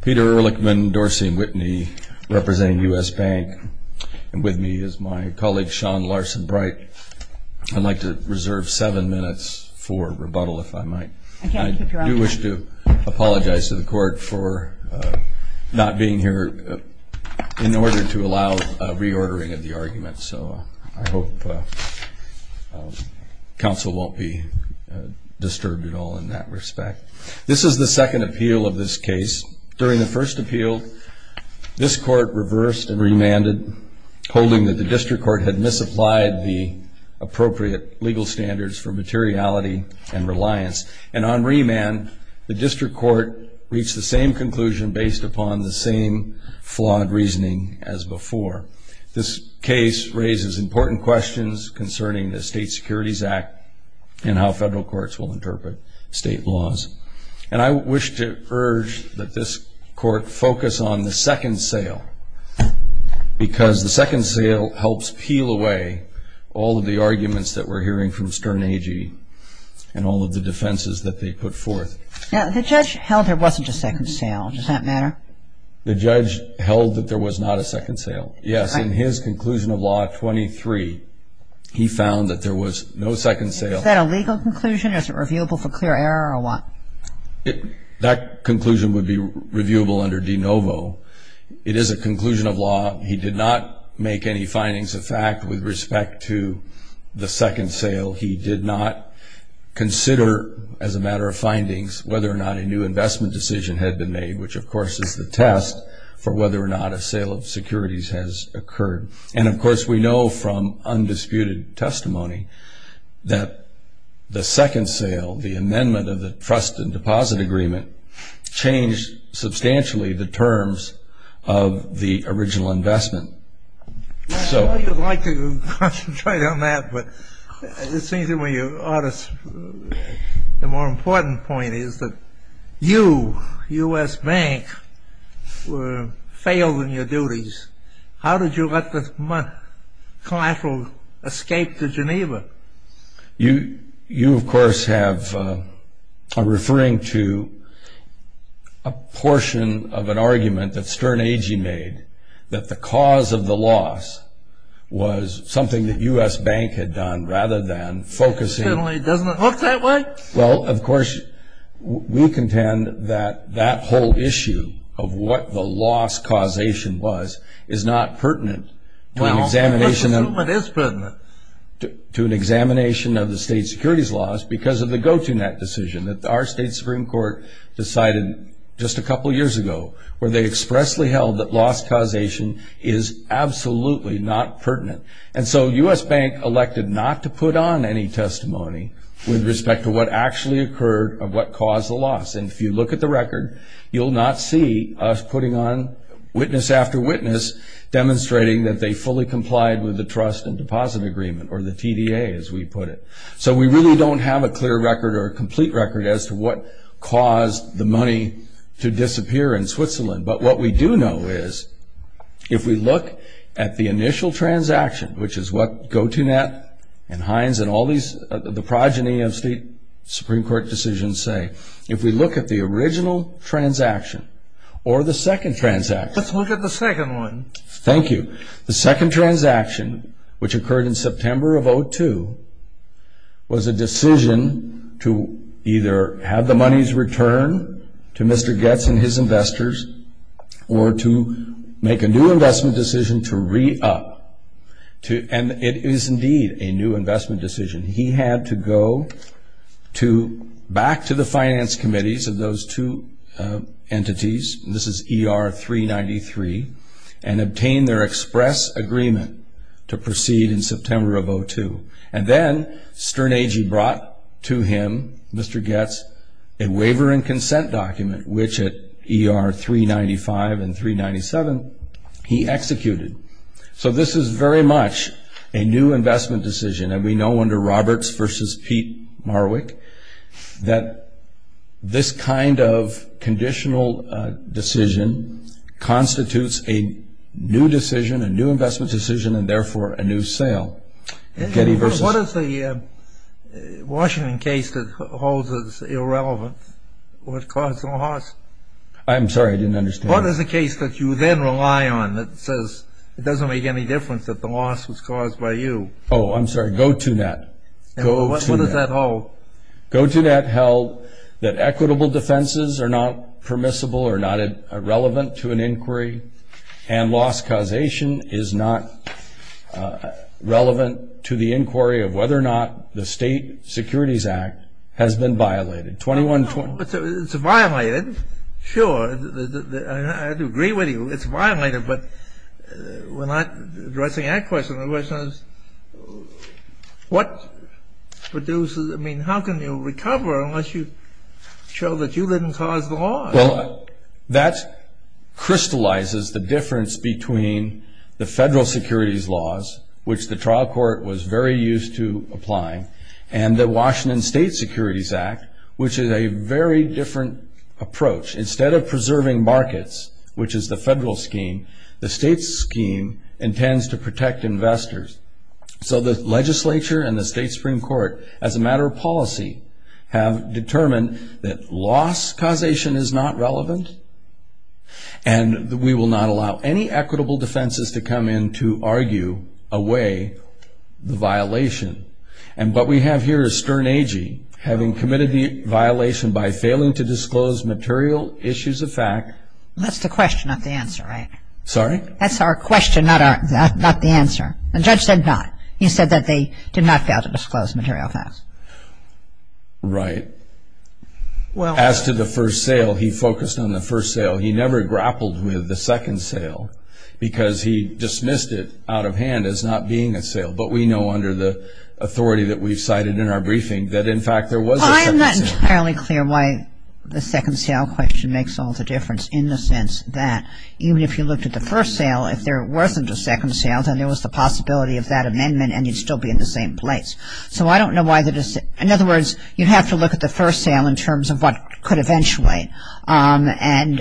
Peter Ehrlichman, Dorsey & Whitney representing U.S. Bank and with me is my colleague Sean Larson Bright. I'd like to reserve seven minutes for rebuttal if I might. I do wish to apologize to the court for not being here in order to allow reordering of the argument so I hope counsel won't be disturbed at all in that respect. This is the second appeal of this case. During the first appeal this court reversed and remanded holding that the district court had misapplied the appropriate legal standards for materiality and reliance and on remand the district court reached the same conclusion based upon the same flawed reasoning as before. This case raises important questions concerning the State Securities Act and how federal courts will interpret state laws and I wish to urge that this court focus on the second sale because the second sale helps peel away all of the arguments that we're hearing from Stern AG and all of the defenses that they put forth. Now the judge held there wasn't a second sale does that matter? The judge held that there was not a second sale. Yes in his conclusion of law 23 he found that there was no second sale. Is that a legal conclusion? Is it reviewable for clear error or what? That conclusion would be reviewable under de novo. It is a conclusion of law. He did not make any findings of fact with respect to the second sale. He did not consider as a matter of findings whether or not a new investment decision had been made which of course is the test for whether or not a sale of securities has occurred and of course we know from undisputed testimony that the second sale, the amendment of the trust and deposit agreement, changed substantially the terms of the original investment. I know you'd like to concentrate on that but it seems to me you ought to. The more important point is that you, U.S. Bank, failed in your duties. How did you let the collateral escape to Geneva? You of course are referring to a portion of an argument that Stern AG made that the cause of the loss was something that U.S. Bank had done rather than focusing. Well of course we contend that that whole issue of what the loss causation was is not pertinent to an examination of the state securities laws because of the go to net decision that our state Supreme Court decided just a couple years ago where they expressly held that loss causation is absolutely not pertinent. And so U.S. Bank elected not to put on any testimony with respect to what actually occurred or what caused the loss and if you look at the record you'll not see us putting on witness after witness demonstrating that they fully complied with the trust and deposit agreement or the TDA as we put it. So we really don't have a clear record or a complete record as to what caused the money to disappear in Switzerland but what we do know is if we look at the initial transaction which is what go to net and Heinz and all these the progeny of state Supreme Court decisions say if we look at the original transaction or the second transaction. Let's look at the second one. Thank you. The second transaction which occurred in September of 2002 was a decision to either have the monies return to Mr. Goetz and his investors or to make a new investment decision to re-up and it is indeed a new investment decision. He had to go to back to the finance committees of those two entities. This is ER 393 and obtain their express agreement to proceed in September of 2002 and then Sternage brought to him Mr. Goetz a waiver and consent document which at ER 395 and 397 he executed. So this is very much a new investment decision and we know under Roberts versus Pete Marwick that this kind of conditional decision constitutes a new decision, a new investment decision and therefore a new sale. What is the Washington case that holds this irrelevant? What caused the loss? I'm sorry I didn't understand. What is the case that you then rely on that says it doesn't make any difference that the loss was caused by you? Oh I'm sorry, go to net. What does that hold? Go to net held that equitable defenses are not permissible or not relevant to an inquiry and loss causation is not relevant to the inquiry of whether or not the state securities act has been violated. It's violated, sure, I would agree with you it's violated but we're not addressing that question. The question is what produces, I mean how can you recover unless you show that you didn't cause the loss? Well that crystallizes the difference between the federal securities laws which the trial court was very used to applying and the Washington state securities act which is a very different approach. Instead of preserving markets which is the federal scheme, the state's scheme intends to protect investors. So the legislature and the state supreme court as a matter of policy have determined that loss causation is not relevant and we will not allow any equitable defenses to come in to argue away the violation. And what we have here is Stern Agee having committed the violation by failing to disclose material issues of fact. That's the question not the answer right? Sorry? That's our question not the answer. The judge said not. He said that they did not fail to disclose material facts. Right. Well as to the first sale he focused on the first sale. He never grappled with the second sale because he dismissed it out of hand as not being a sale but we know under the authority that we've cited in our briefing that in fact there was a second sale. It's not entirely clear why the second sale question makes all the difference in the sense that even if you looked at the first sale if there wasn't a second sale then there was the possibility of that amendment and you'd still be in the same place. So I don't know why the, in other words you'd have to look at the first sale in terms of what could eventually and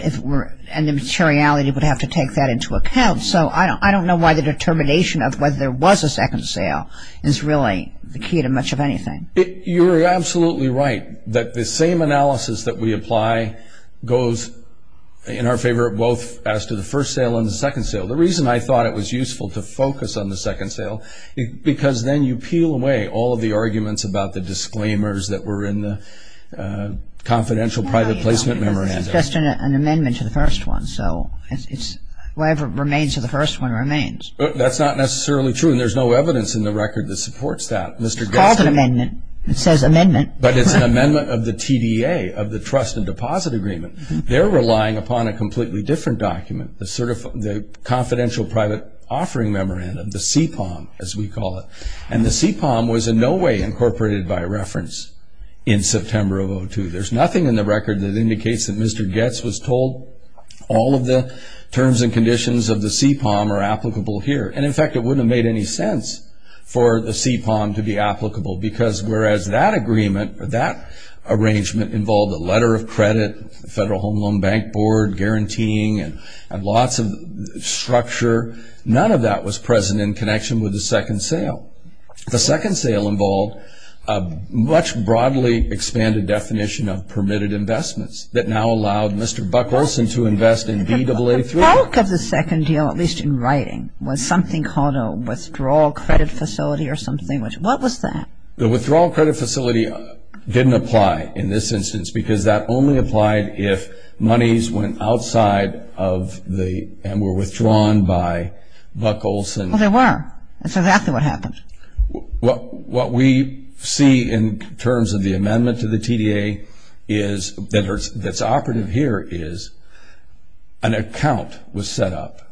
the materiality would have to take that into account. So I don't know why the determination of whether there was a second sale is really the key to much of anything. You're absolutely right that the same analysis that we apply goes in our favor both as to the first sale and the second sale. The reason I thought it was useful to focus on the second sale because then you peel away all of the arguments about the disclaimers that were in the confidential private placement memorandum. It's just an amendment to the first one. So it's whatever remains of the first one remains. That's not necessarily true and there's no evidence in the record that supports that. It's called an amendment. It says amendment. But it's an amendment of the TDA, of the Trust and Deposit Agreement. They're relying upon a completely different document, the confidential private offering memorandum, the CPOM as we call it. And the CPOM was in no way incorporated by reference in September of 2002. There's nothing in the record that indicates that Mr. Goetz was told all of the terms and conditions of the CPOM are applicable here. And in fact, it wouldn't have made any sense for the CPOM to be applicable because whereas that agreement or that arrangement involved a letter of credit, a federal home loan bank board guaranteeing and lots of structure, none of that was present in connection with the second sale. The second sale involved a much broadly expanded definition of permitted investments that now allowed Mr. Buck Olson to invest in BAA3. The bulk of the second deal, at least in writing, was something called a withdrawal credit facility or something. What was that? The withdrawal credit facility didn't apply in this instance because that only applied if monies went outside of the and were withdrawn by Buck Olson. Well, they were. That's exactly what happened. What we see in terms of the amendment to the TDA that's operative here is an account was set up,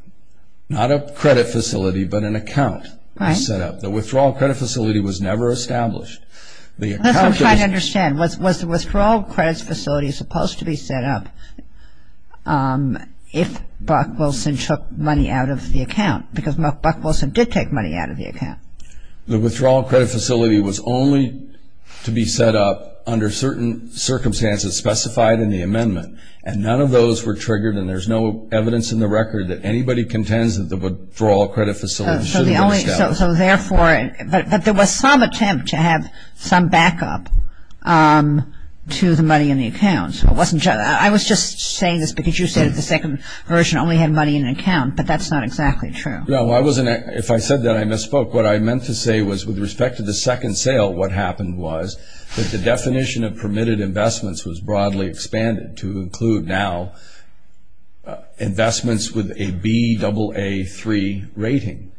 not a credit facility, but an account was set up. The withdrawal credit facility was never established. That's what I'm trying to understand. Was the withdrawal credit facility supposed to be set up if Buck Olson took money out of the account? Because Buck Olson did take money out of the account. The withdrawal credit facility was only to be set up under certain circumstances specified in the amendment and none of those were triggered and there's no evidence in the record that anybody contends that the withdrawal credit facility should have been established. So therefore, but there was some attempt to have some backup to the money in the account. I was just saying this because you said that the second version only had money in an account, but that's not exactly true. No, if I said that, I misspoke. What I meant to say was with respect to the second sale, what happened was that the definition of permitted investments was broadly expanded to include now investments with a BAA3 rating,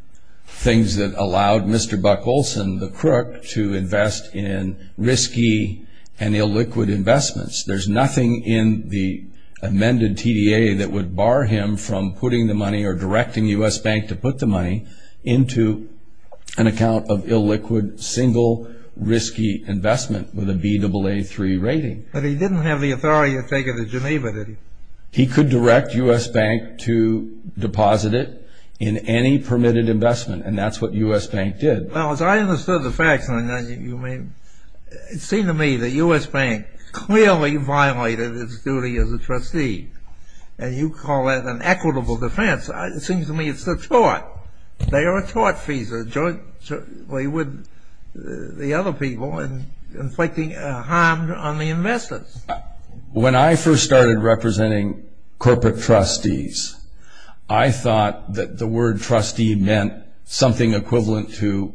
things that allowed Mr. Buck Olson, the crook, to invest in risky and illiquid investments. There's nothing in the amended TDA that would bar him from putting the money or directing U.S. Bank to put the money into an account of illiquid, single, risky investment with a BAA3 rating. But he didn't have the authority to take it to Geneva, did he? He could direct U.S. Bank to deposit it in any permitted investment and that's what U.S. Bank did. Well, as I understood the facts, it seemed to me that U.S. Bank clearly violated its duty as a trustee and you call that an equitable defense. It seems to me it's a tort. They are a tort, FISA, jointly with the other people and inflicting harm on the investors. When I first started representing corporate trustees, I thought that the word trustee meant something equivalent to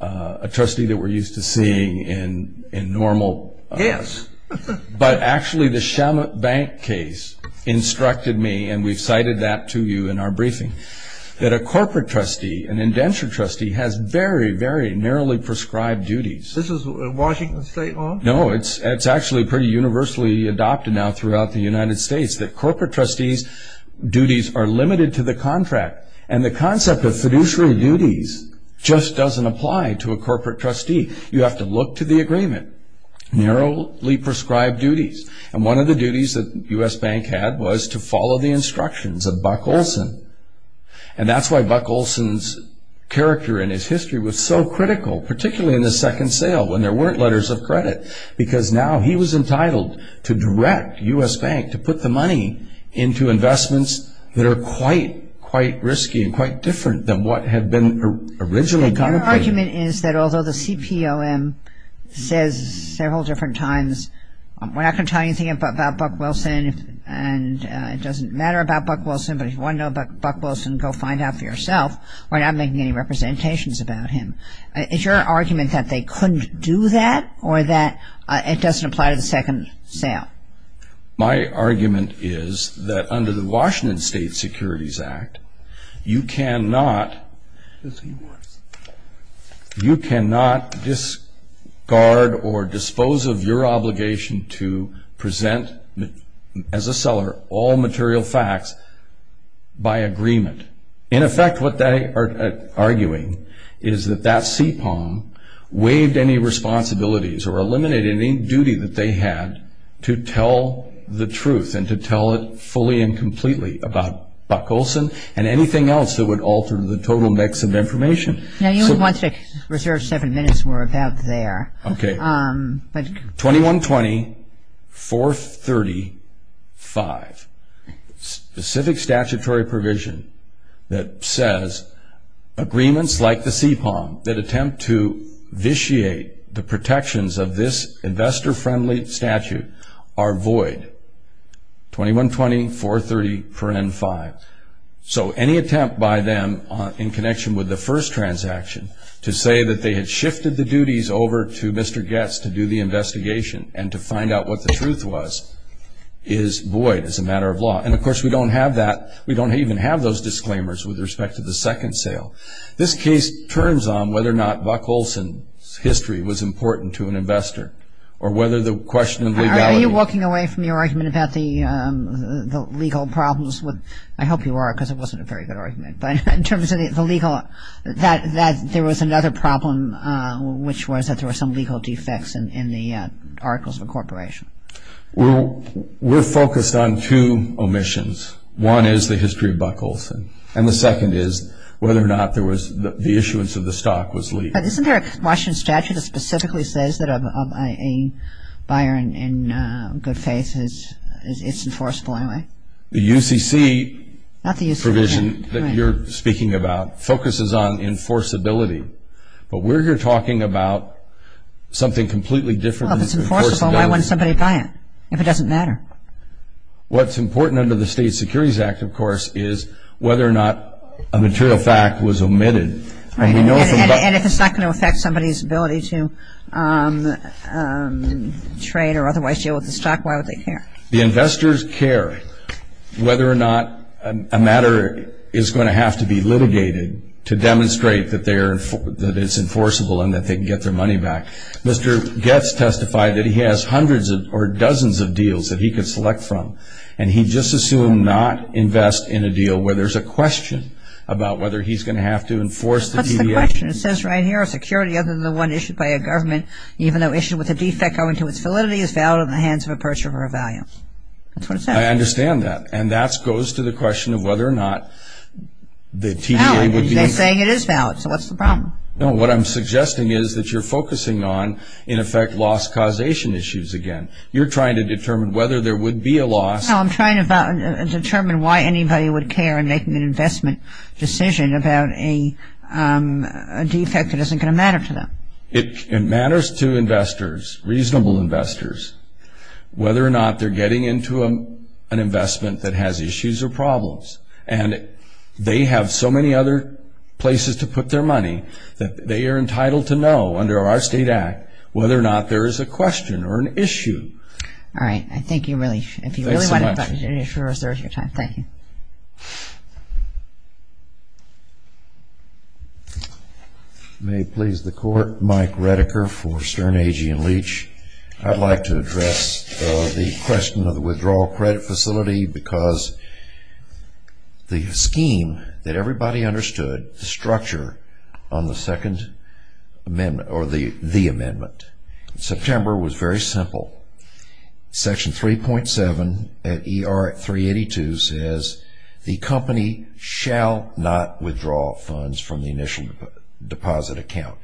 a trustee that we're used to seeing in normal... Yes. But actually, the Shamrock Bank case instructed me, and we've cited that to you in our briefing, that a corporate trustee, an indentured trustee, has very, very narrowly prescribed duties. This is a Washington State law? No, it's actually pretty universally adopted now throughout the United States that corporate trustees' duties are limited to the contract. And the concept of fiduciary duties just doesn't apply to a corporate trustee. You have to look to the agreement, narrowly prescribed duties. And one of the duties that U.S. Bank had was to follow the instructions of Buck Olson. And that's why Buck Olson's character in his history was so critical, particularly in the second sale, when there weren't letters of credit. Because now he was entitled to direct U.S. Bank to put the money into investments that are quite, quite risky and quite different than what had been originally contemplated. My argument is that although the CPLM says several different times, we're not going to tell you anything about Buck Olson, and it doesn't matter about Buck Olson, but if you want to know about Buck Olson, go find out for yourself. We're not making any representations about him. Is your argument that they couldn't do that, or that it doesn't apply to the second sale? My argument is that under the Washington State Securities Act, you cannot discard or dispose of your obligation to present, as a seller, all material facts by agreement. In effect, what they are arguing is that that CPLM waived any responsibilities or eliminated any duty that they had to tell the truth and to tell it fully and completely about Buck Olson and anything else that would alter the total mix of information. Now, you would want to reserve seven minutes. Okay. 2120.430.5, specific statutory provision that says agreements like the CPLM that attempt to vitiate the protections of this investor-friendly statute are void, 2120.430.5. So, any attempt by them in connection with the first transaction to say that they had shifted the duties over to Mr. Goetz to do the investigation and to find out what the truth was is void as a matter of law. And, of course, we don't have that. We don't even have those disclaimers with respect to the second sale. This case turns on whether or not Buck Olson's history was important to an investor or whether the question of legality- Are you walking away from your argument about the legal problems with-I hope you are because it wasn't a very good argument-but in terms of the legal-that there was another problem, which was that there were some legal defects in the articles of incorporation. We're focused on two omissions. One is the history of Buck Olson. And the second is whether or not there was-the issuance of the stock was legal. But isn't there a Washington statute that specifically says that a buyer in good faith is enforceable anyway? The UCC-not the UCC-provision that you're speaking about focuses on enforceability. But we're here talking about something completely different than- Well, if it's enforceable, why wouldn't somebody buy it if it doesn't matter? What's important under the State Securities Act, of course, is whether or not a material fact was omitted. And if it's not going to affect somebody's ability to trade or otherwise deal with the stock, why would they care? The investors care whether or not a matter is going to have to be litigated to demonstrate that it's enforceable and that they can get their money back. Mr. Goetz testified that he has hundreds or dozens of deals that he could select from. And he just assumed not invest in a deal where there's a question about whether he's going to have to enforce the TDA. What's the question? It says right here, a security other than the one issued by a government, even though issued with a defect owing to its validity, is valid on the hands of a purchaser for a value. That's what it says. I understand that. And that goes to the question of whether or not the TDA would be- Valid. They're saying it is valid. So what's the problem? No, what I'm suggesting is that you're focusing on, in effect, loss causation issues again. You're trying to determine whether there would be a loss- No, I'm trying to determine why anybody would care in making an investment decision about a defect that isn't going to matter to them. It matters to investors, reasonable investors, whether or not they're getting into an investment that has issues or problems. And they have so many other places to put their money that they are entitled to know, under our state act, whether or not there is a question or an issue. All right. I think you really- Thanks so much. If you really want to talk, I'm sure there's your time. Thank you. May it please the Court. Mike Redeker for Stern, Agee, and Leach. I'd like to address the question of the withdrawal credit facility because the scheme that everybody understood, the structure on the second amendment, or the amendment, September was very simple. Section 3.7 at ER 382 says the company shall not withdraw funds from the initial deposit account.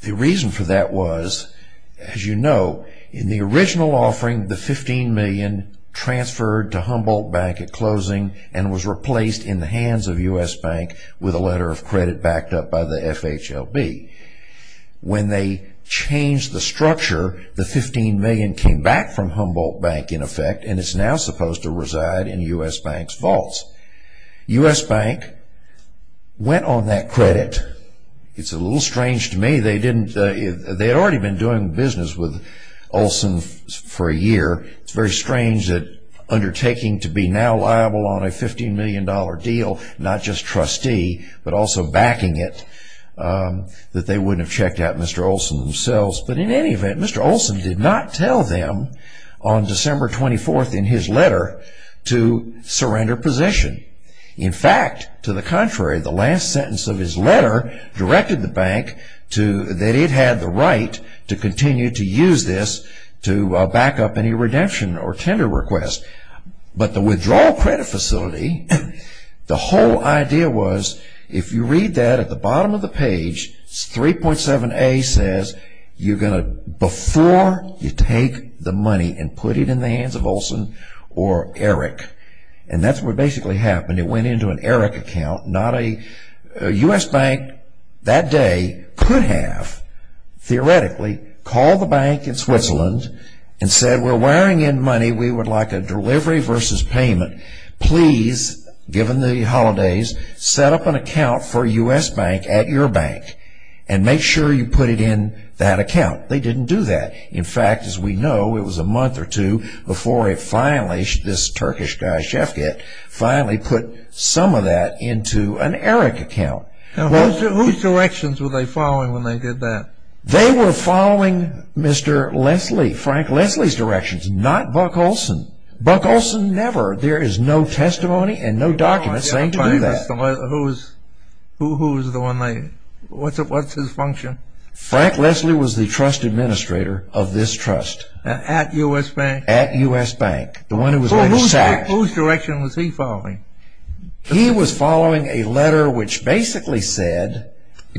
The reason for that was, as you know, in the original offering, the $15 million transferred to Humboldt Bank at closing and was replaced in the hands of U.S. Bank with a letter of credit backed up by the FHLB. When they changed the structure, the $15 million came back from Humboldt Bank, in effect, and it's now supposed to reside in U.S. Bank's vaults. U.S. Bank went on that credit. It's a little strange to me. They had already been doing business with Olson for a year. It's very strange that undertaking to be now liable on a $15 million deal, not just trustee, but also backing it, that they wouldn't have checked out Mr. Olson themselves. But in any event, Mr. Olson did not tell them on December 24th in his letter to surrender position. In fact, to the contrary, the last sentence of his letter directed the bank that it had the right to continue to use this to back up any redemption or tender request. But the withdrawal credit facility, the whole idea was, if you read that at the bottom of the page, 3.7a says, before you take the money and put it in the hands of Olson or Eric. And that's what basically happened. It went into an Eric account. U.S. Bank that day could have, theoretically, called the bank in Switzerland and said, we're wiring in money. We would like a delivery versus payment. Please, given the holidays, set up an account for U.S. Bank at your bank and make sure you put it in that account. They didn't do that. In fact, as we know, it was a month or two before it finally, this Turkish guy, Shefket, finally put some of that into an Eric account. Now, whose directions were they following when they did that? They were following Mr. Leslie, Frank Leslie's directions, not Buck Olson. Buck Olson, never. There is no testimony and no documents saying to do that. Who is the one they, what's his function? Frank Leslie was the trust administrator of this trust. At U.S. Bank? At U.S. Bank. The one who was like a sack. Whose direction was he following? He was following a letter which basically said,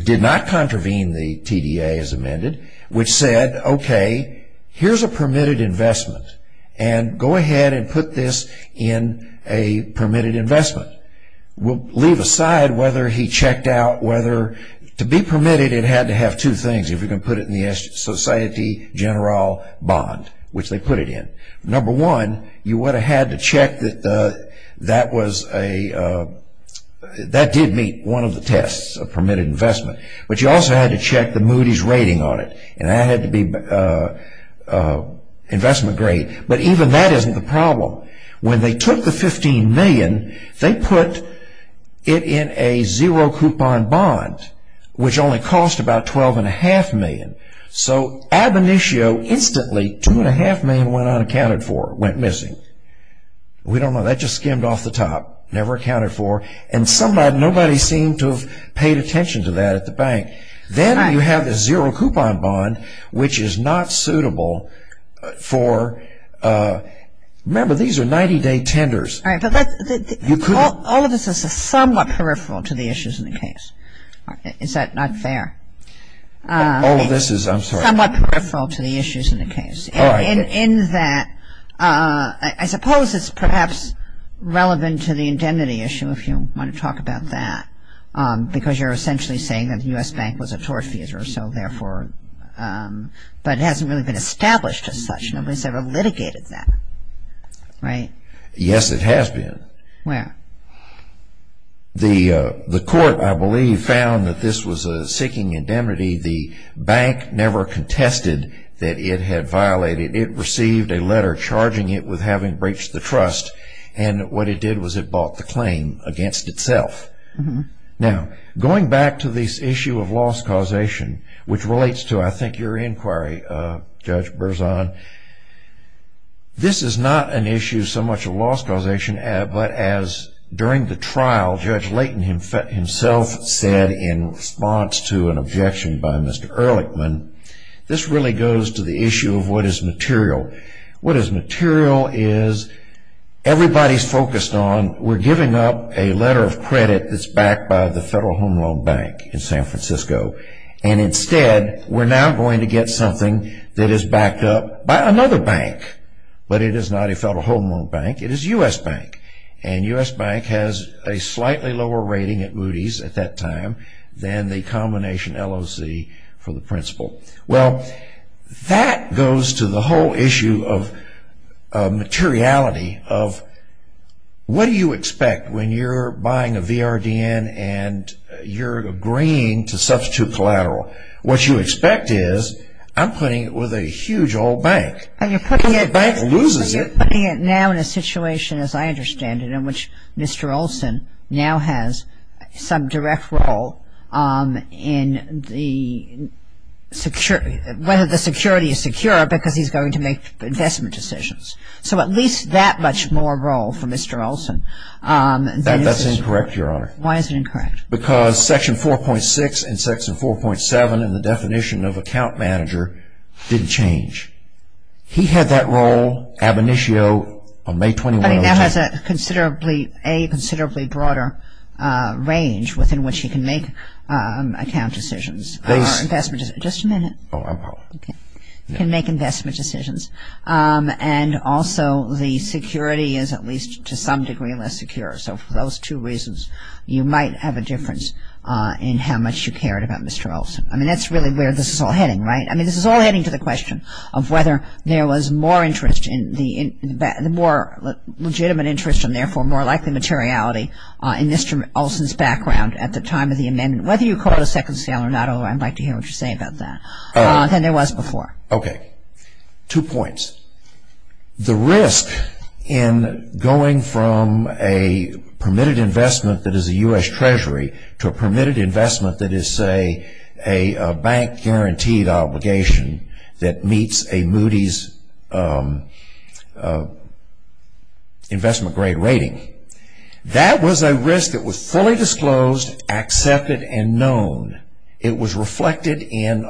did not contravene the TDA as amended, which said, okay, here's a permitted investment. And go ahead and put this in a permitted investment. We'll leave aside whether he checked out whether, to be permitted, it had to have two things. If you're going to put it in the society general bond, which they put it in. Number one, you would have had to check that that was a, that did meet one of the tests of permitted investment. But you also had to check the Moody's rating on it. And that had to be investment grade. But even that isn't the problem. When they took the $15 million, they put it in a zero coupon bond, which only cost about $12.5 million. So ab initio, instantly, $2.5 million went unaccounted for, went missing. We don't know. That just skimmed off the top. Never accounted for. And somebody, nobody seemed to have paid attention to that at the bank. Then you have the zero coupon bond, which is not suitable for, remember, these are 90-day tenders. All right. But that's, you couldn't. All of this is somewhat peripheral to the issues in the case. Is that not fair? All of this is, I'm sorry. Somewhat peripheral to the issues in the case. All right. In that, I suppose it's perhaps relevant to the indemnity issue, if you want to talk about that. Because you're essentially saying that the U.S. bank was a tort fee, or so, therefore. But it hasn't really been established as such. Nobody's ever litigated that. Yes, it has been. The court, I believe, found that this was a seeking indemnity. The bank never contested that it had violated. It received a letter charging it with having breached the trust. And what it did was it bought the claim against itself. Now, going back to this issue of loss causation, which relates to, I think, your inquiry, Judge Berzon, this is not an issue so much of loss causation, but as, during the trial, Judge Layton himself said in response to an objection by Mr. Ehrlichman, this really goes to the issue of what is material. What is material is everybody's focused on, we're giving up a letter of credit that's backed by the Federal Home Loan Bank in San Francisco. And instead, we're now going to get something that is backed up by another bank. But it is not a Federal Home Loan Bank. It is U.S. bank. And U.S. bank has a slightly lower rating at Moody's at that time than the combination LOC for the principal. Well, that goes to the whole issue of materiality of what do you expect when you're buying a collateral. What you expect is I'm putting it with a huge old bank. And you're putting it now in a situation, as I understand it, in which Mr. Olson now has some direct role in whether the security is secure because he's going to make investment decisions. So at least that much more role for Mr. Olson. That's incorrect, Your Honor. Why is it incorrect? Because Section 4.6 and Section 4.7 in the definition of account manager didn't change. He had that role ab initio on May 21 of the time. But he now has a considerably, a considerably broader range within which he can make account decisions or investment decisions. Just a minute. Oh, I'm sorry. Okay. He can make investment decisions. And also, the security is at least to some degree less secure. So for those two reasons, you might have a difference in how much you cared about Mr. Olson. I mean, that's really where this is all heading, right? I mean, this is all heading to the question of whether there was more interest in the more legitimate interest and therefore more likely materiality in Mr. Olson's background at the time of the amendment. Whether you call it a second scale or not, I'd like to hear what you say about that, than there was before. Okay. Two points. The risk in going from a permitted investment that is a U.S. Treasury to a permitted investment that is, say, a bank-guaranteed obligation that meets a Moody's investment-grade rating, that was a risk that was fully disclosed, accepted, and known. It was reflected in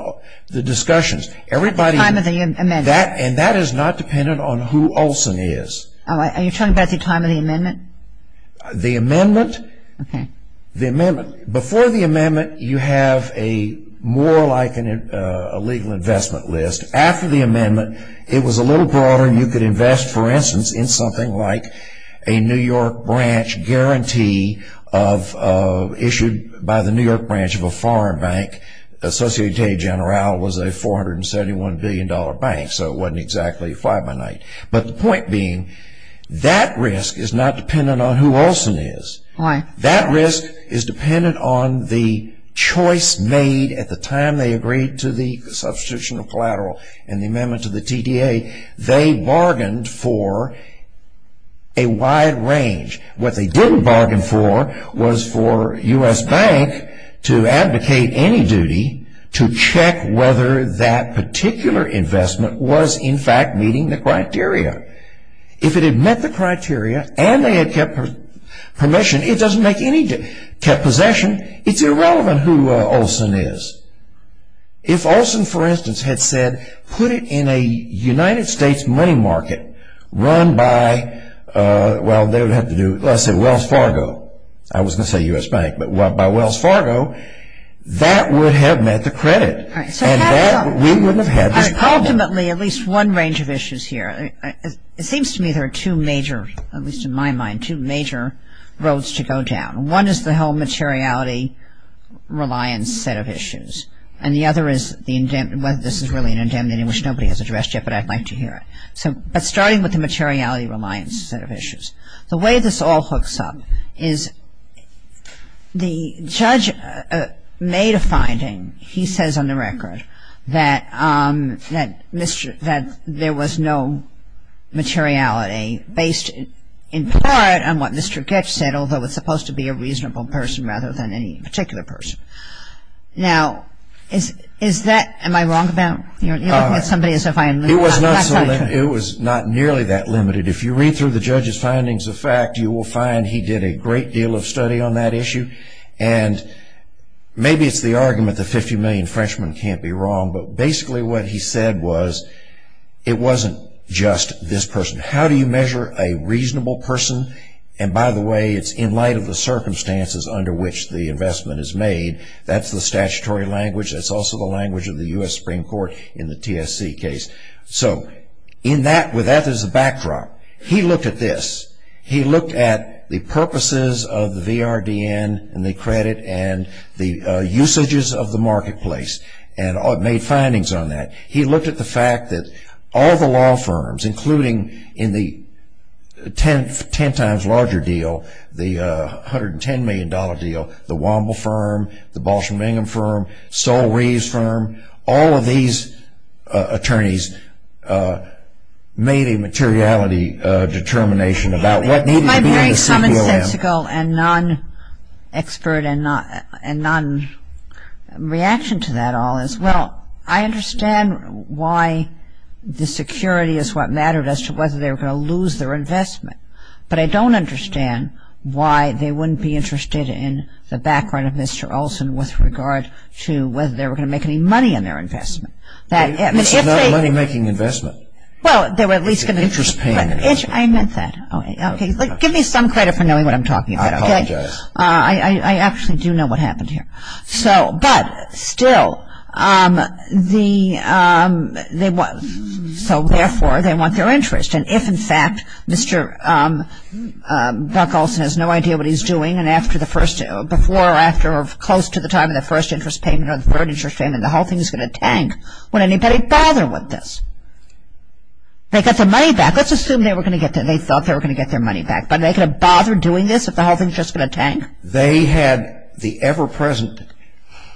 the discussions. At the time of the amendment. And that is not dependent on who Olson is. Oh, are you talking about the time of the amendment? The amendment? Okay. The amendment. Before the amendment, you have a more like a legal investment list. After the amendment, it was a little broader and you could invest, for instance, in something like a New York branch guarantee issued by the New York branch of a foreign bank. Associated General was a $471 billion bank, so it wasn't exactly a fly-by-night. But the point being, that risk is not dependent on who Olson is. Why? That risk is dependent on the choice made at the time they agreed to the substitution of collateral and the amendment to the TTA. They bargained for a wide range. What they didn't bargain for was for U.S. Bank to advocate any duty to check whether that particular investment was, in fact, meeting the criteria. If it had met the criteria and they had kept permission, it doesn't make any, kept possession, it's irrelevant who Olson is. If Olson, for instance, had said, put it in a United States money market run by, well, I said Wells Fargo. I wasn't going to say U.S. Bank, but by Wells Fargo, that would have met the credit. We wouldn't have had this problem. Ultimately, at least one range of issues here. It seems to me there are two major, at least in my mind, two major roads to go down. One is the whole materiality reliance set of issues, and the other is whether this is really an indemnity, which nobody has addressed yet, but I'd like to hear it. But starting with the materiality reliance set of issues, the way this all hooks up is the judge made a finding, he says on the record, that there was no materiality based in part on what Mr. Gitch said, although it's supposed to be a reasonable person rather than any particular person. Now, is that, am I wrong about, you're looking at somebody as if I am. It was not nearly that limited. If you read through the judge's findings of fact, you will find he did a great deal of study on that issue, and maybe it's the argument the 50 million Frenchmen can't be wrong, but basically what he said was it wasn't just this person. How do you measure a reasonable person? And by the way, it's in light of the circumstances under which the investment is made. That's the statutory language. That's also the language of the U.S. Supreme Court in the TSC case. So with that as a backdrop, he looked at this. He looked at the purposes of the VRDN and the credit and the usages of the marketplace and made findings on that. He looked at the fact that all the law firms, including in the 10 times larger deal, the $110 million deal, the Womble firm, the Balsham-Bingham firm, Sol Reeves firm, all of these attorneys made a materiality determination about what needed to be in the CPLM. If I may make some insensical and non-expert and non-reaction to that all is, well, I understand why the security is what mattered as to whether they were going to lose their investment, but I don't understand why they wouldn't be interested in the background of Mr. Olson with regard to whether they were going to make any money on their investment. It's not a money-making investment. It's an interest-paying investment. I meant that. Give me some credit for knowing what I'm talking about. I apologize. I actually do know what happened here. But still, so therefore, they want their interest. And if, in fact, Mr. Buck Olson has no idea what he's doing and before or after or close to the time of the first interest payment or the third interest payment, the whole thing is going to tank. Would anybody bother with this? They got their money back. Let's assume they thought they were going to get their money back. But are they going to bother doing this if the whole thing is just going to tank? They had the ever-present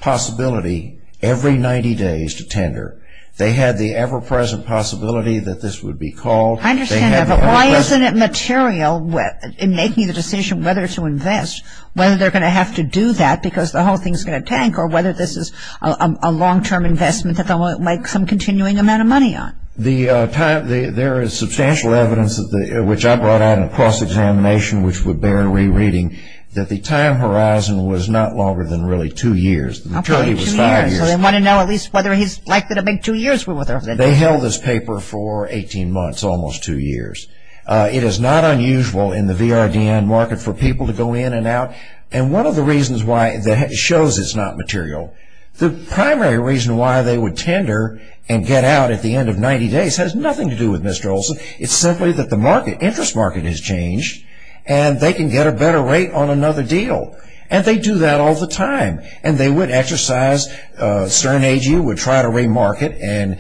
possibility every 90 days to tender. They had the ever-present possibility that this would be called. I understand that, but why isn't it material in making the decision whether to invest, whether they're going to have to do that because the whole thing is going to tank or whether this is a long-term investment that they'll make some continuing amount of money on? There is substantial evidence, which I brought out in a cross-examination, which we're barely reading, that the time horizon was not longer than really two years. The maturity was five years. So they want to know at least whether he's likely to make two years worth of it. They held this paper for 18 months, almost two years. It is not unusual in the VRDN market for people to go in and out. One of the reasons why that shows it's not material, the primary reason why they would tender and get out at the end of 90 days has nothing to do with Mr. Olson. It's simply that the interest market has changed and they can get a better rate on another deal. They do that all the time. They would exercise CERN AGU, would try to remarket in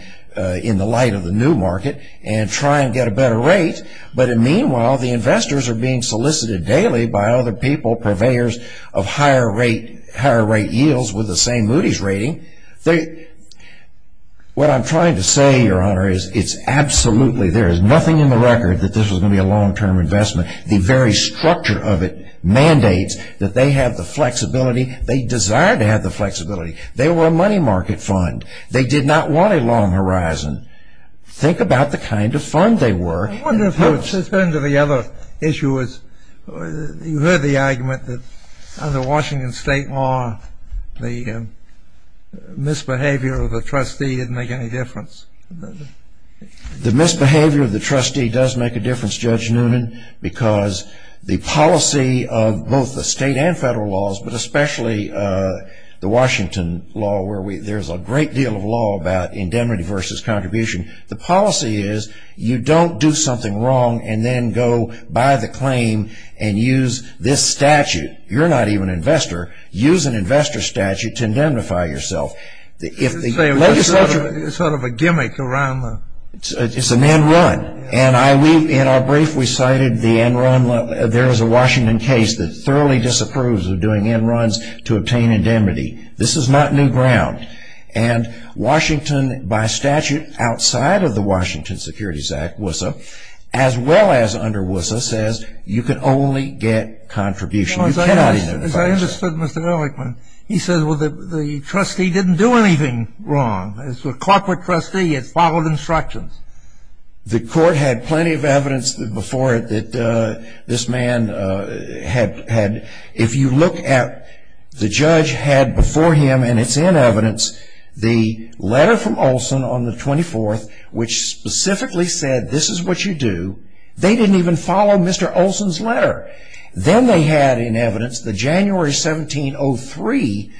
the light of the new market and try and get a better rate. Meanwhile, the investors are being solicited daily by other people, purveyors of higher rate yields with the same Moody's rating. What I'm trying to say, Your Honor, is absolutely there is nothing in the record that this was going to be a long-term investment. The very structure of it mandates that they have the flexibility. They desire to have the flexibility. They were a money market fund. They did not want a long horizon. Think about the kind of fund they were. Let's turn to the other issue. You heard the argument that under Washington state law, the misbehavior of the trustee didn't make any difference. The misbehavior of the trustee does make a difference, Judge Noonan, because the policy of both the state and federal laws, but especially the Washington law where there's a great deal of law about indemnity versus contribution. The policy is you don't do something wrong and then go by the claim and use this statute. You're not even an investor. Use an investor statute to indemnify yourself. It's sort of a gimmick. It's an end run. And in our brief, we cited the end run. There is a Washington case that thoroughly disapproves of doing end runs to obtain indemnity. This is not new ground. And Washington, by statute, outside of the Washington Securities Act, WSSA, as well as under WSSA, says you can only get contribution. You cannot indemnify yourself. As I understood, Mr. Ehrlichman, he said, well, the trustee didn't do anything wrong. As a corporate trustee, it followed instructions. The court had plenty of evidence before it that this man had, if you look at the judge had before him, and it's in evidence, the letter from Olson on the 24th, which specifically said this is what you do. They didn't even follow Mr. Olson's letter. Then they had in evidence the January 1703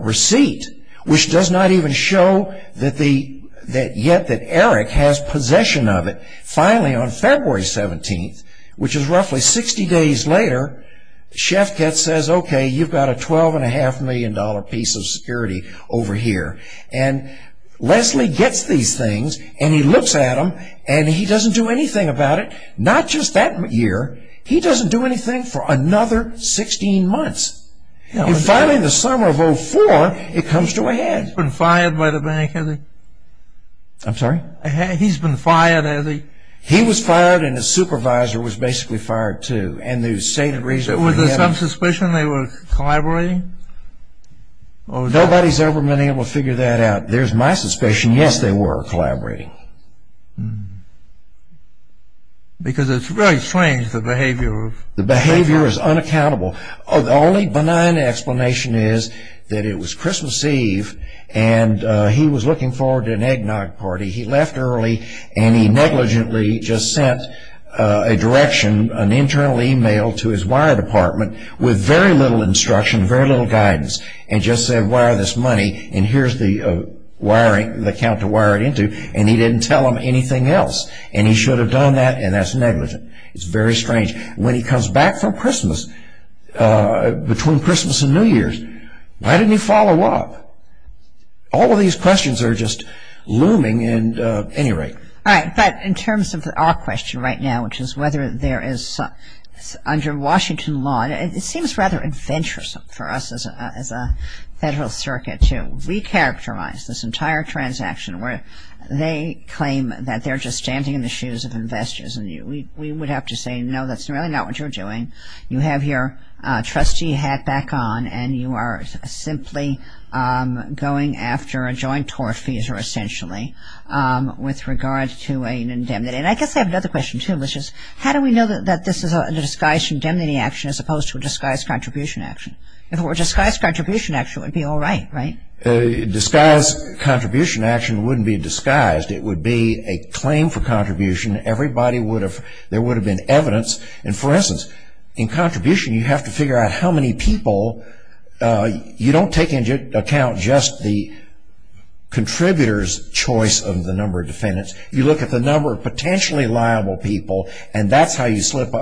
receipt, which does not even show that yet that Ehrlichman has possession of it. Finally, on February 17th, which is roughly 60 days later, Shefkatz says, okay, you've got a $12.5 million piece of security over here. And Leslie gets these things, and he looks at them, and he doesn't do anything about it. Not just that year. He doesn't do anything for another 16 months. And finally, in the summer of 04, it comes to a head. He's been fired by the bank, hasn't he? I'm sorry? He's been fired, hasn't he? He was fired, and his supervisor was basically fired, too. And the stated reason... Was there some suspicion they were collaborating? Nobody's ever been able to figure that out. There's my suspicion, yes, they were collaborating. Because it's very strange, the behavior of... The behavior is unaccountable. The only benign explanation is that it was Christmas Eve, and he was looking forward to an eggnog party. He left early, and he negligently just sent a direction, an internal email to his wire department, with very little instruction, very little guidance, and just said, wire this money, and here's the account to wire it into, and he didn't tell them anything else. And he should have done that, and that's negligent. It's very strange. When he comes back from Christmas, between Christmas and New Year's, why didn't he follow up? All of these questions are just looming, at any rate. All right, but in terms of our question right now, which is whether there is... Under Washington law, it seems rather adventuresome for us as a Federal Circuit to recharacterize this entire transaction, where they claim that they're just standing in the shoes of investors, and we would have to say, no, that's really not what you're doing. You have your trustee hat back on, and you are simply going after a joint tortfeasor, essentially, with regard to an indemnity. And I guess I have another question, too, which is, how do we know that this is a disguised indemnity action, as opposed to a disguised contribution action? If it were a disguised contribution action, it would be all right, right? A disguised contribution action wouldn't be disguised. It would be a claim for contribution. Everybody would have... There would have been evidence. And for instance, in contribution, you have to figure out how many people... You don't take into account just the contributor's choice of the number of defendants. You look at the number of potentially liable people, and that's how you slice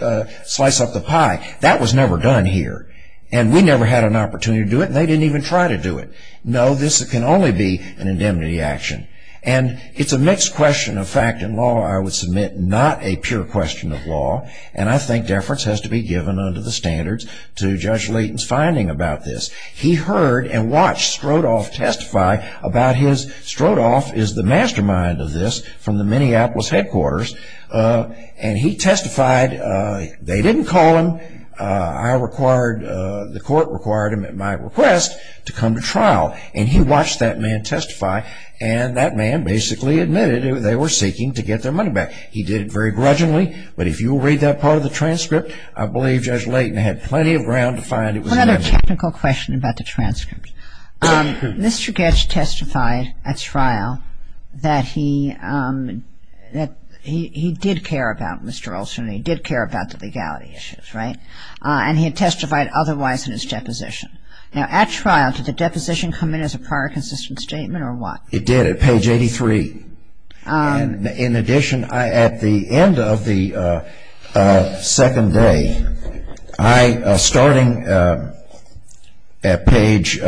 up the pie. That was never done here, and we never had an opportunity to do it, and they didn't even try to do it. No, this can only be an indemnity action. And it's a mixed question of fact and law, I would submit, not a pure question of law, and I think deference has to be given under the standards to Judge Leighton's finding about this. He heard and watched Strodoff testify about his... Strodoff is the mastermind of this, from the Minneapolis headquarters. And he testified. They didn't call him. The court required him, at my request, to come to trial. And he watched that man testify, and that man basically admitted they were seeking to get their money back. He did it very grudgingly, but if you will read that part of the transcript, I believe Judge Leighton had plenty of ground to find it was... Another technical question about the transcript. Mr. Goetz testified at trial that he did care about Mr. Olson, and he did care about the legality issues, right? And he had testified otherwise in his deposition. Now, at trial, did the deposition come in as a prior consistent statement or what? It did, at page 83. And in addition, at the end of the second day, starting at page...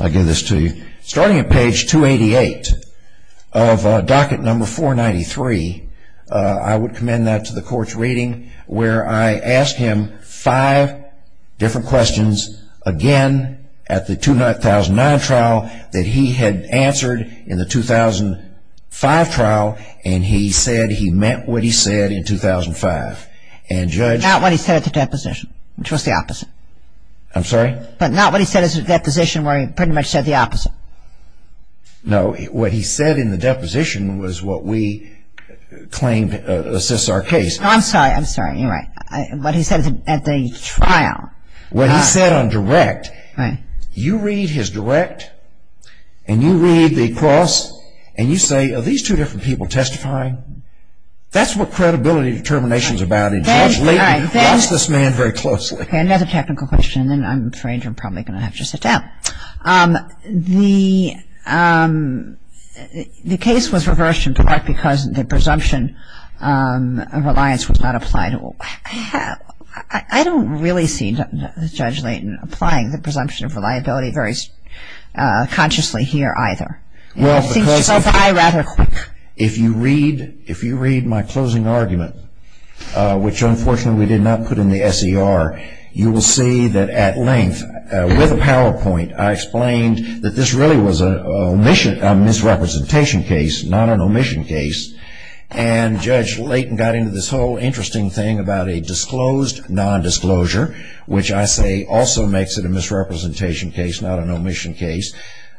I'll give this to you. Starting at page 288 of docket number 493, I would commend that to the court's different questions. Again, at the 2009 trial, that he had answered in the 2005 trial, and he said he meant what he said in 2005. And Judge... Not what he said at the deposition, which was the opposite. I'm sorry? But not what he said at the deposition where he pretty much said the opposite. No, what he said in the deposition was what we claimed assists our case. I'm sorry, I'm sorry, you're right. What he said at the trial. What he said on direct. You read his direct, and you read the cross, and you say, are these two different people testifying? That's what credibility determination is about. And Judge Layton watched this man very closely. Okay, another technical question, and then I'm afraid you're probably going to have to sit down. The case was reversed in part because the presumption of reliance was not applied and I don't really see Judge Layton applying the presumption of reliability very consciously here either. Well, because if you read my closing argument, which unfortunately we did not put in the SER, you will see that at length, with a PowerPoint, I explained that this really was a misrepresentation case, not an omission case, and Judge Layton got into this whole interesting thing about a disclosed nondisclosure, which I say also makes it a misrepresentation case, not an omission case.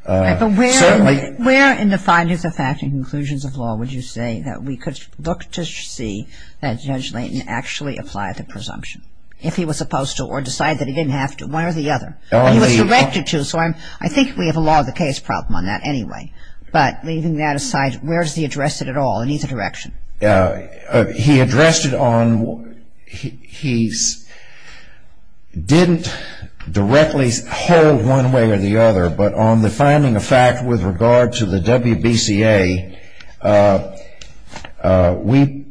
But where in the findings of fact and conclusions of law would you say that we could look to see that Judge Layton actually applied the presumption? If he was supposed to, or decide that he didn't have to, one or the other? He was directed to, so I think we have a law of the case problem on that anyway. But leaving that aside, where does he address it at all, in either direction? He addressed it on, he didn't directly hold one way or the other, but on the finding of fact with regard to the WBCA, we,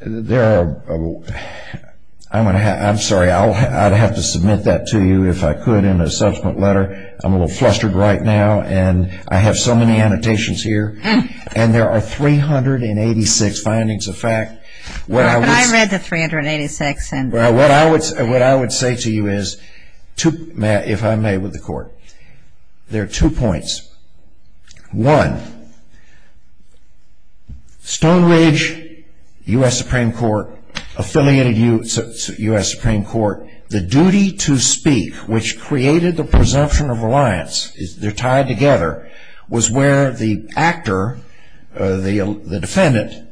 there are, I'm sorry, I'd have to submit that to you if I could in a subsequent letter. I'm a little flustered right now, and I have so many annotations here, and there are 386 findings of fact, what I would say to you is, if I may with the court, there are two points. One, Stone Ridge, U.S. Supreme Court, affiliated U.S. Supreme Court, the duty to speak, which created the presumption of reliance, they're tied together, was where the actor, the defendant,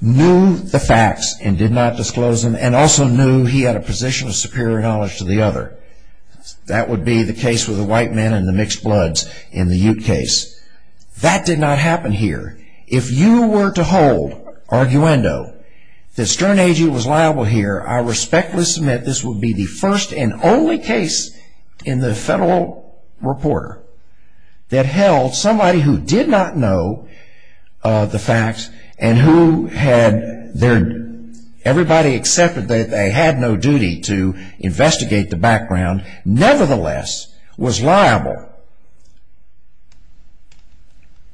knew the facts and did not disclose them, and also knew he had a position of superior knowledge to the other. That would be the case with the white man and the mixed bloods in the Ute case. That did not happen here. If you were to hold, arguendo, that Stern Agee was liable here, I respectfully submit this would be the first and only case in the federal reporter that held somebody who did not know the facts and who had their, everybody accepted that they had no duty to investigate the background, nevertheless, was liable.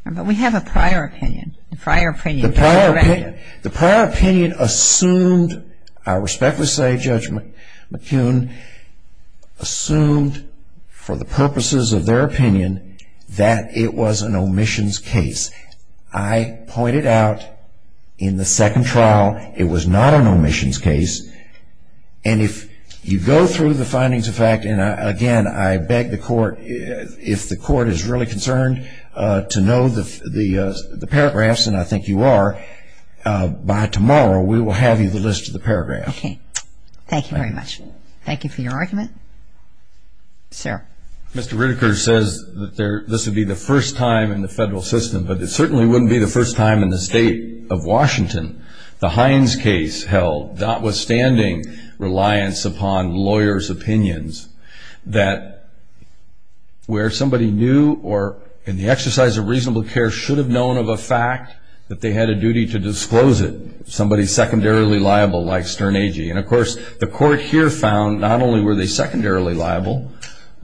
But we have a prior opinion. The prior opinion. Assumed, I respectfully say Judge McCune, assumed for the purposes of their opinion that it was an omissions case. I pointed out in the second trial, it was not an omissions case. And if you go through the findings of fact, and again, I beg the court, if the will have you the list of the paragraph. Okay, thank you very much. Thank you for your argument. Sir. Mr. Ritiker says that this would be the first time in the federal system, but it certainly wouldn't be the first time in the state of Washington. The Hines case held, notwithstanding reliance upon lawyers' opinions, that where somebody knew or in the exercise of reasonable care should have known of a that they had a duty to disclose it, somebody secondarily liable like Stern Agee. And of course, the court here found not only were they secondarily liable,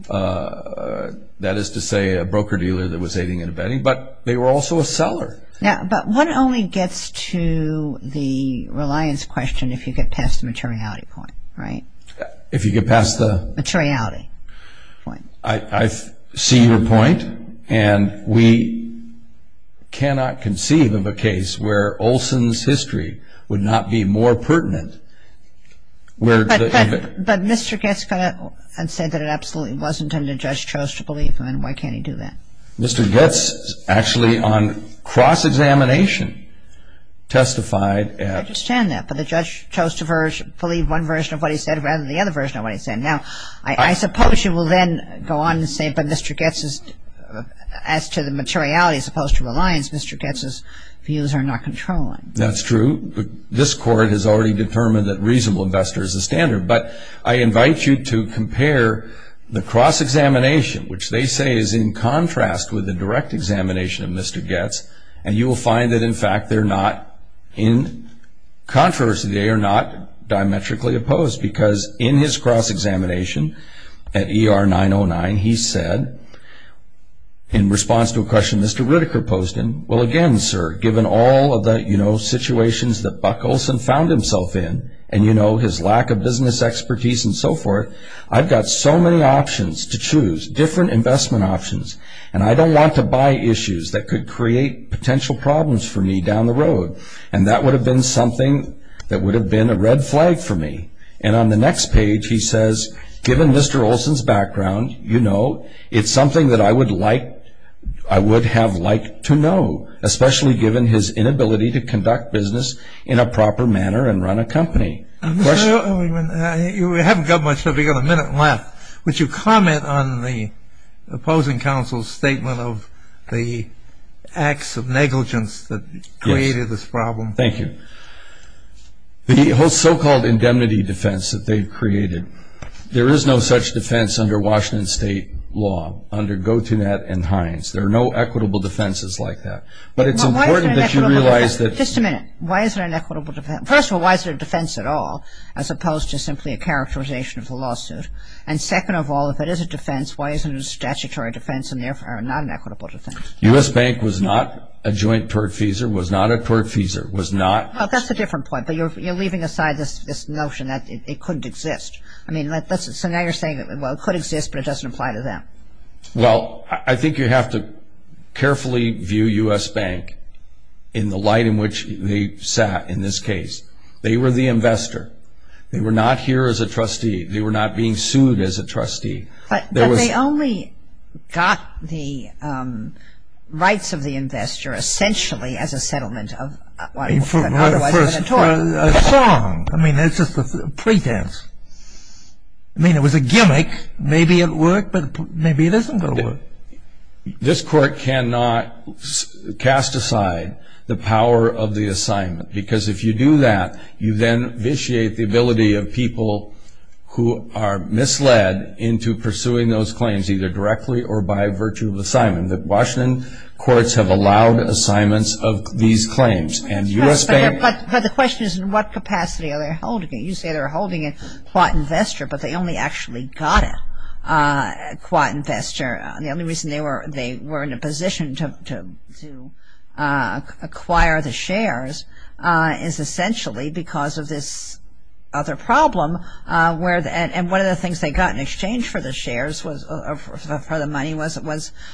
that is to say a broker dealer that was aiding and abetting, but they were also a seller. Yeah, but one only gets to the reliance question if you get past the materiality point, right? If you get past the... Materiality point. I see your point. And we cannot conceive of a case where Olson's history would not be more pertinent. But Mr. Goetz said that it absolutely wasn't and the judge chose to believe him, and why can't he do that? Mr. Goetz actually on cross-examination testified at... I understand that. But the judge chose to believe one version of what he said rather than the other version of what he said. Now, I suppose you will then go on to say, but Mr. Goetz's... As to the materiality as opposed to reliance, Mr. Goetz's views are not controlling. That's true, but this court has already determined that reasonable investor is the standard. But I invite you to compare the cross-examination, which they say is in contrast with the direct examination of Mr. Goetz, and you will find that in fact they're not in contrast. They are not diametrically opposed because in his cross-examination at ER 909, he said in response to a question Mr. Ritiker posed him, well, again, sir, given all of the situations that Buck Olson found himself in, and his lack of business expertise and so forth, I've got so many options to choose, different investment options, and I don't want to buy issues that could create potential problems for me down the road. And that would have been something that would have been a red flag for me. And on the next page, he says, given Mr. Olson's background, you know, it's something that I would like... I would have liked to know, especially given his inability to conduct business in a proper manner and run a company. Mr. Erwin, you haven't got much time. We've got a minute left. Would you comment on the opposing counsel's statement of the acts of negligence that created this problem? Thank you. The whole so-called indemnity defense that they created, there is no such defense under Washington State law, under Gautinet and Hines. There are no equitable defenses like that. But it's important that you realize that... Just a minute. Why is it an equitable defense? First of all, why is it a defense at all, as opposed to simply a characterization of the lawsuit? And second of all, if it is a defense, why isn't it a statutory defense and therefore not an equitable defense? U.S. Bank was not a joint tortfeasor, was not a tortfeasor, was not... Well, that's a different point, but you're leaving aside this notion that it couldn't exist. I mean, so now you're saying, well, it could exist, but it doesn't apply to them. Well, I think you have to carefully view U.S. Bank in the light in which they sat in this case. They were the investor. They were not here as a trustee. They were not being sued as a trustee. But they only got the rights of the investor essentially as a settlement of an otherwise unatorium. For a song. I mean, it's just a pretense. I mean, it was a gimmick. Maybe it worked, but maybe it isn't going to work. This court cannot cast aside the power of the assignment, because if you do that, you then vitiate the ability of people who are misled into pursuing those claims, either directly or by virtue of assignment. The Washington courts have allowed assignments of these claims, and U.S. Bank... But the question is, in what capacity are they holding it? You say they're holding it qua investor, but they only actually got it qua investor. The only reason they were in a position to acquire the shares is essentially because of this other problem, and one of the things they got in exchange for the money was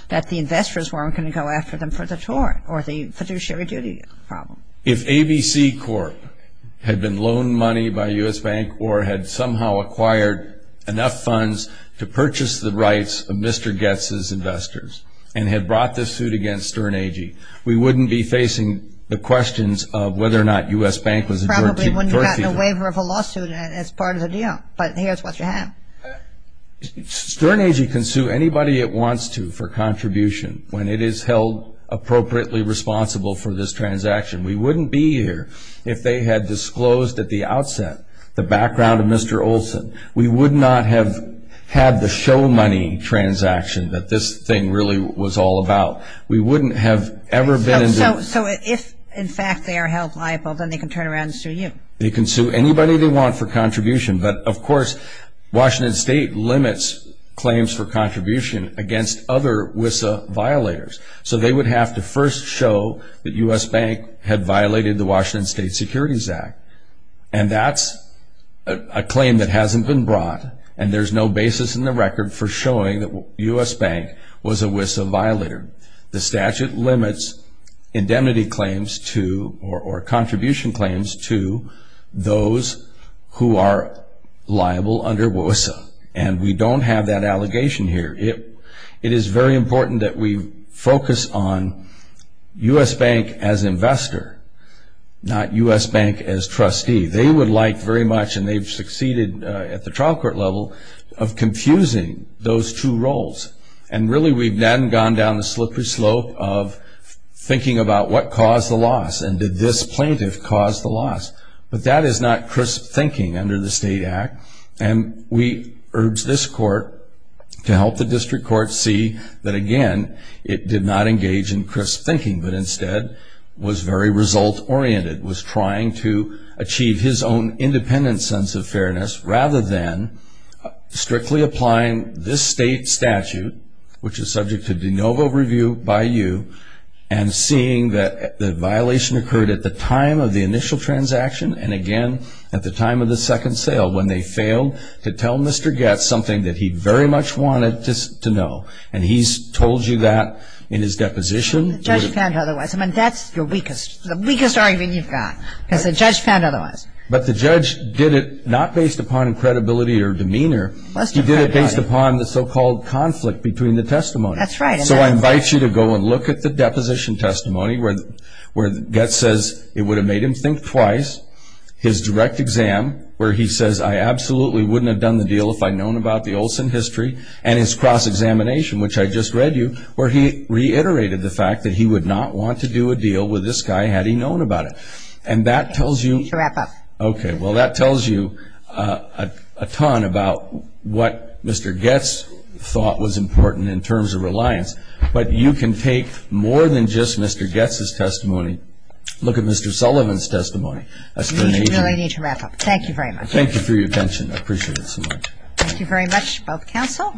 that the investors weren't going to go after them for the tort or the fiduciary duty problem. If ABC Corp had been loaned money by U.S. Bank or had somehow acquired enough funds to investors and had brought this suit against Stern Agee, we wouldn't be facing the questions of whether or not U.S. Bank was a tort feature. Probably wouldn't have gotten a waiver of a lawsuit as part of the deal, but here's what you have. Stern Agee can sue anybody it wants to for contribution when it is held appropriately responsible for this transaction. We wouldn't be here if they had disclosed at the outset the background of Mr. Olson. We would not have had the show money transaction that this thing really was all about. We wouldn't have ever been in the... So if in fact they are held liable, then they can turn around and sue you? They can sue anybody they want for contribution, but of course, Washington State limits claims for contribution against other WSSA violators, so they would have to first show that U.S. Bank had violated the Washington State Securities Act, and that's a claim that hasn't been brought, and there's no basis in the record for showing that U.S. Bank was a WSSA violator. The statute limits indemnity claims to, or contribution claims to, those who are liable under WSSA, and we don't have that allegation here. It is very important that we focus on U.S. Bank as investor, not U.S. Bank as trustee. They would like very much, and they've succeeded at the trial court level, of confusing those two roles, and really we've then gone down the slippery slope of thinking about what caused the loss, and did this plaintiff cause the loss, but that is not crisp thinking under the state act, and we urge this court to help the district court see that again, it did not engage in crisp thinking, but instead was very result-oriented, was trying to achieve his own independent sense of fairness, rather than strictly applying this state statute, which is subject to de novo review by you, and seeing that the violation occurred at the time of the initial transaction, and again, at the time of the second sale, when they failed to tell Mr. Getz something that he very much wanted to know, and he's told you that in his deposition. The judge found otherwise, I mean, that's the weakest argument you've got, is the judge found otherwise. But the judge did it not based upon credibility or demeanor, he did it based upon the so-called conflict between the testimony. That's right. So I invite you to go and look at the deposition testimony, where Getz says it would have made him think twice, his direct exam, where he says, I absolutely wouldn't have done the deal if I'd known about the Olson history, and his cross examination, which I just read to you, where he reiterated the fact that he would not want to do a deal with this guy had he known about it. And that tells you. To wrap up. Okay. Well, that tells you a ton about what Mr. Getz thought was important in terms of reliance, but you can take more than just Mr. Getz's testimony, look at Mr. Sullivan's testimony. We really need to wrap up. Thank you very much. Thank you for your attention. I appreciate it so much. Thank you very much, both counsel.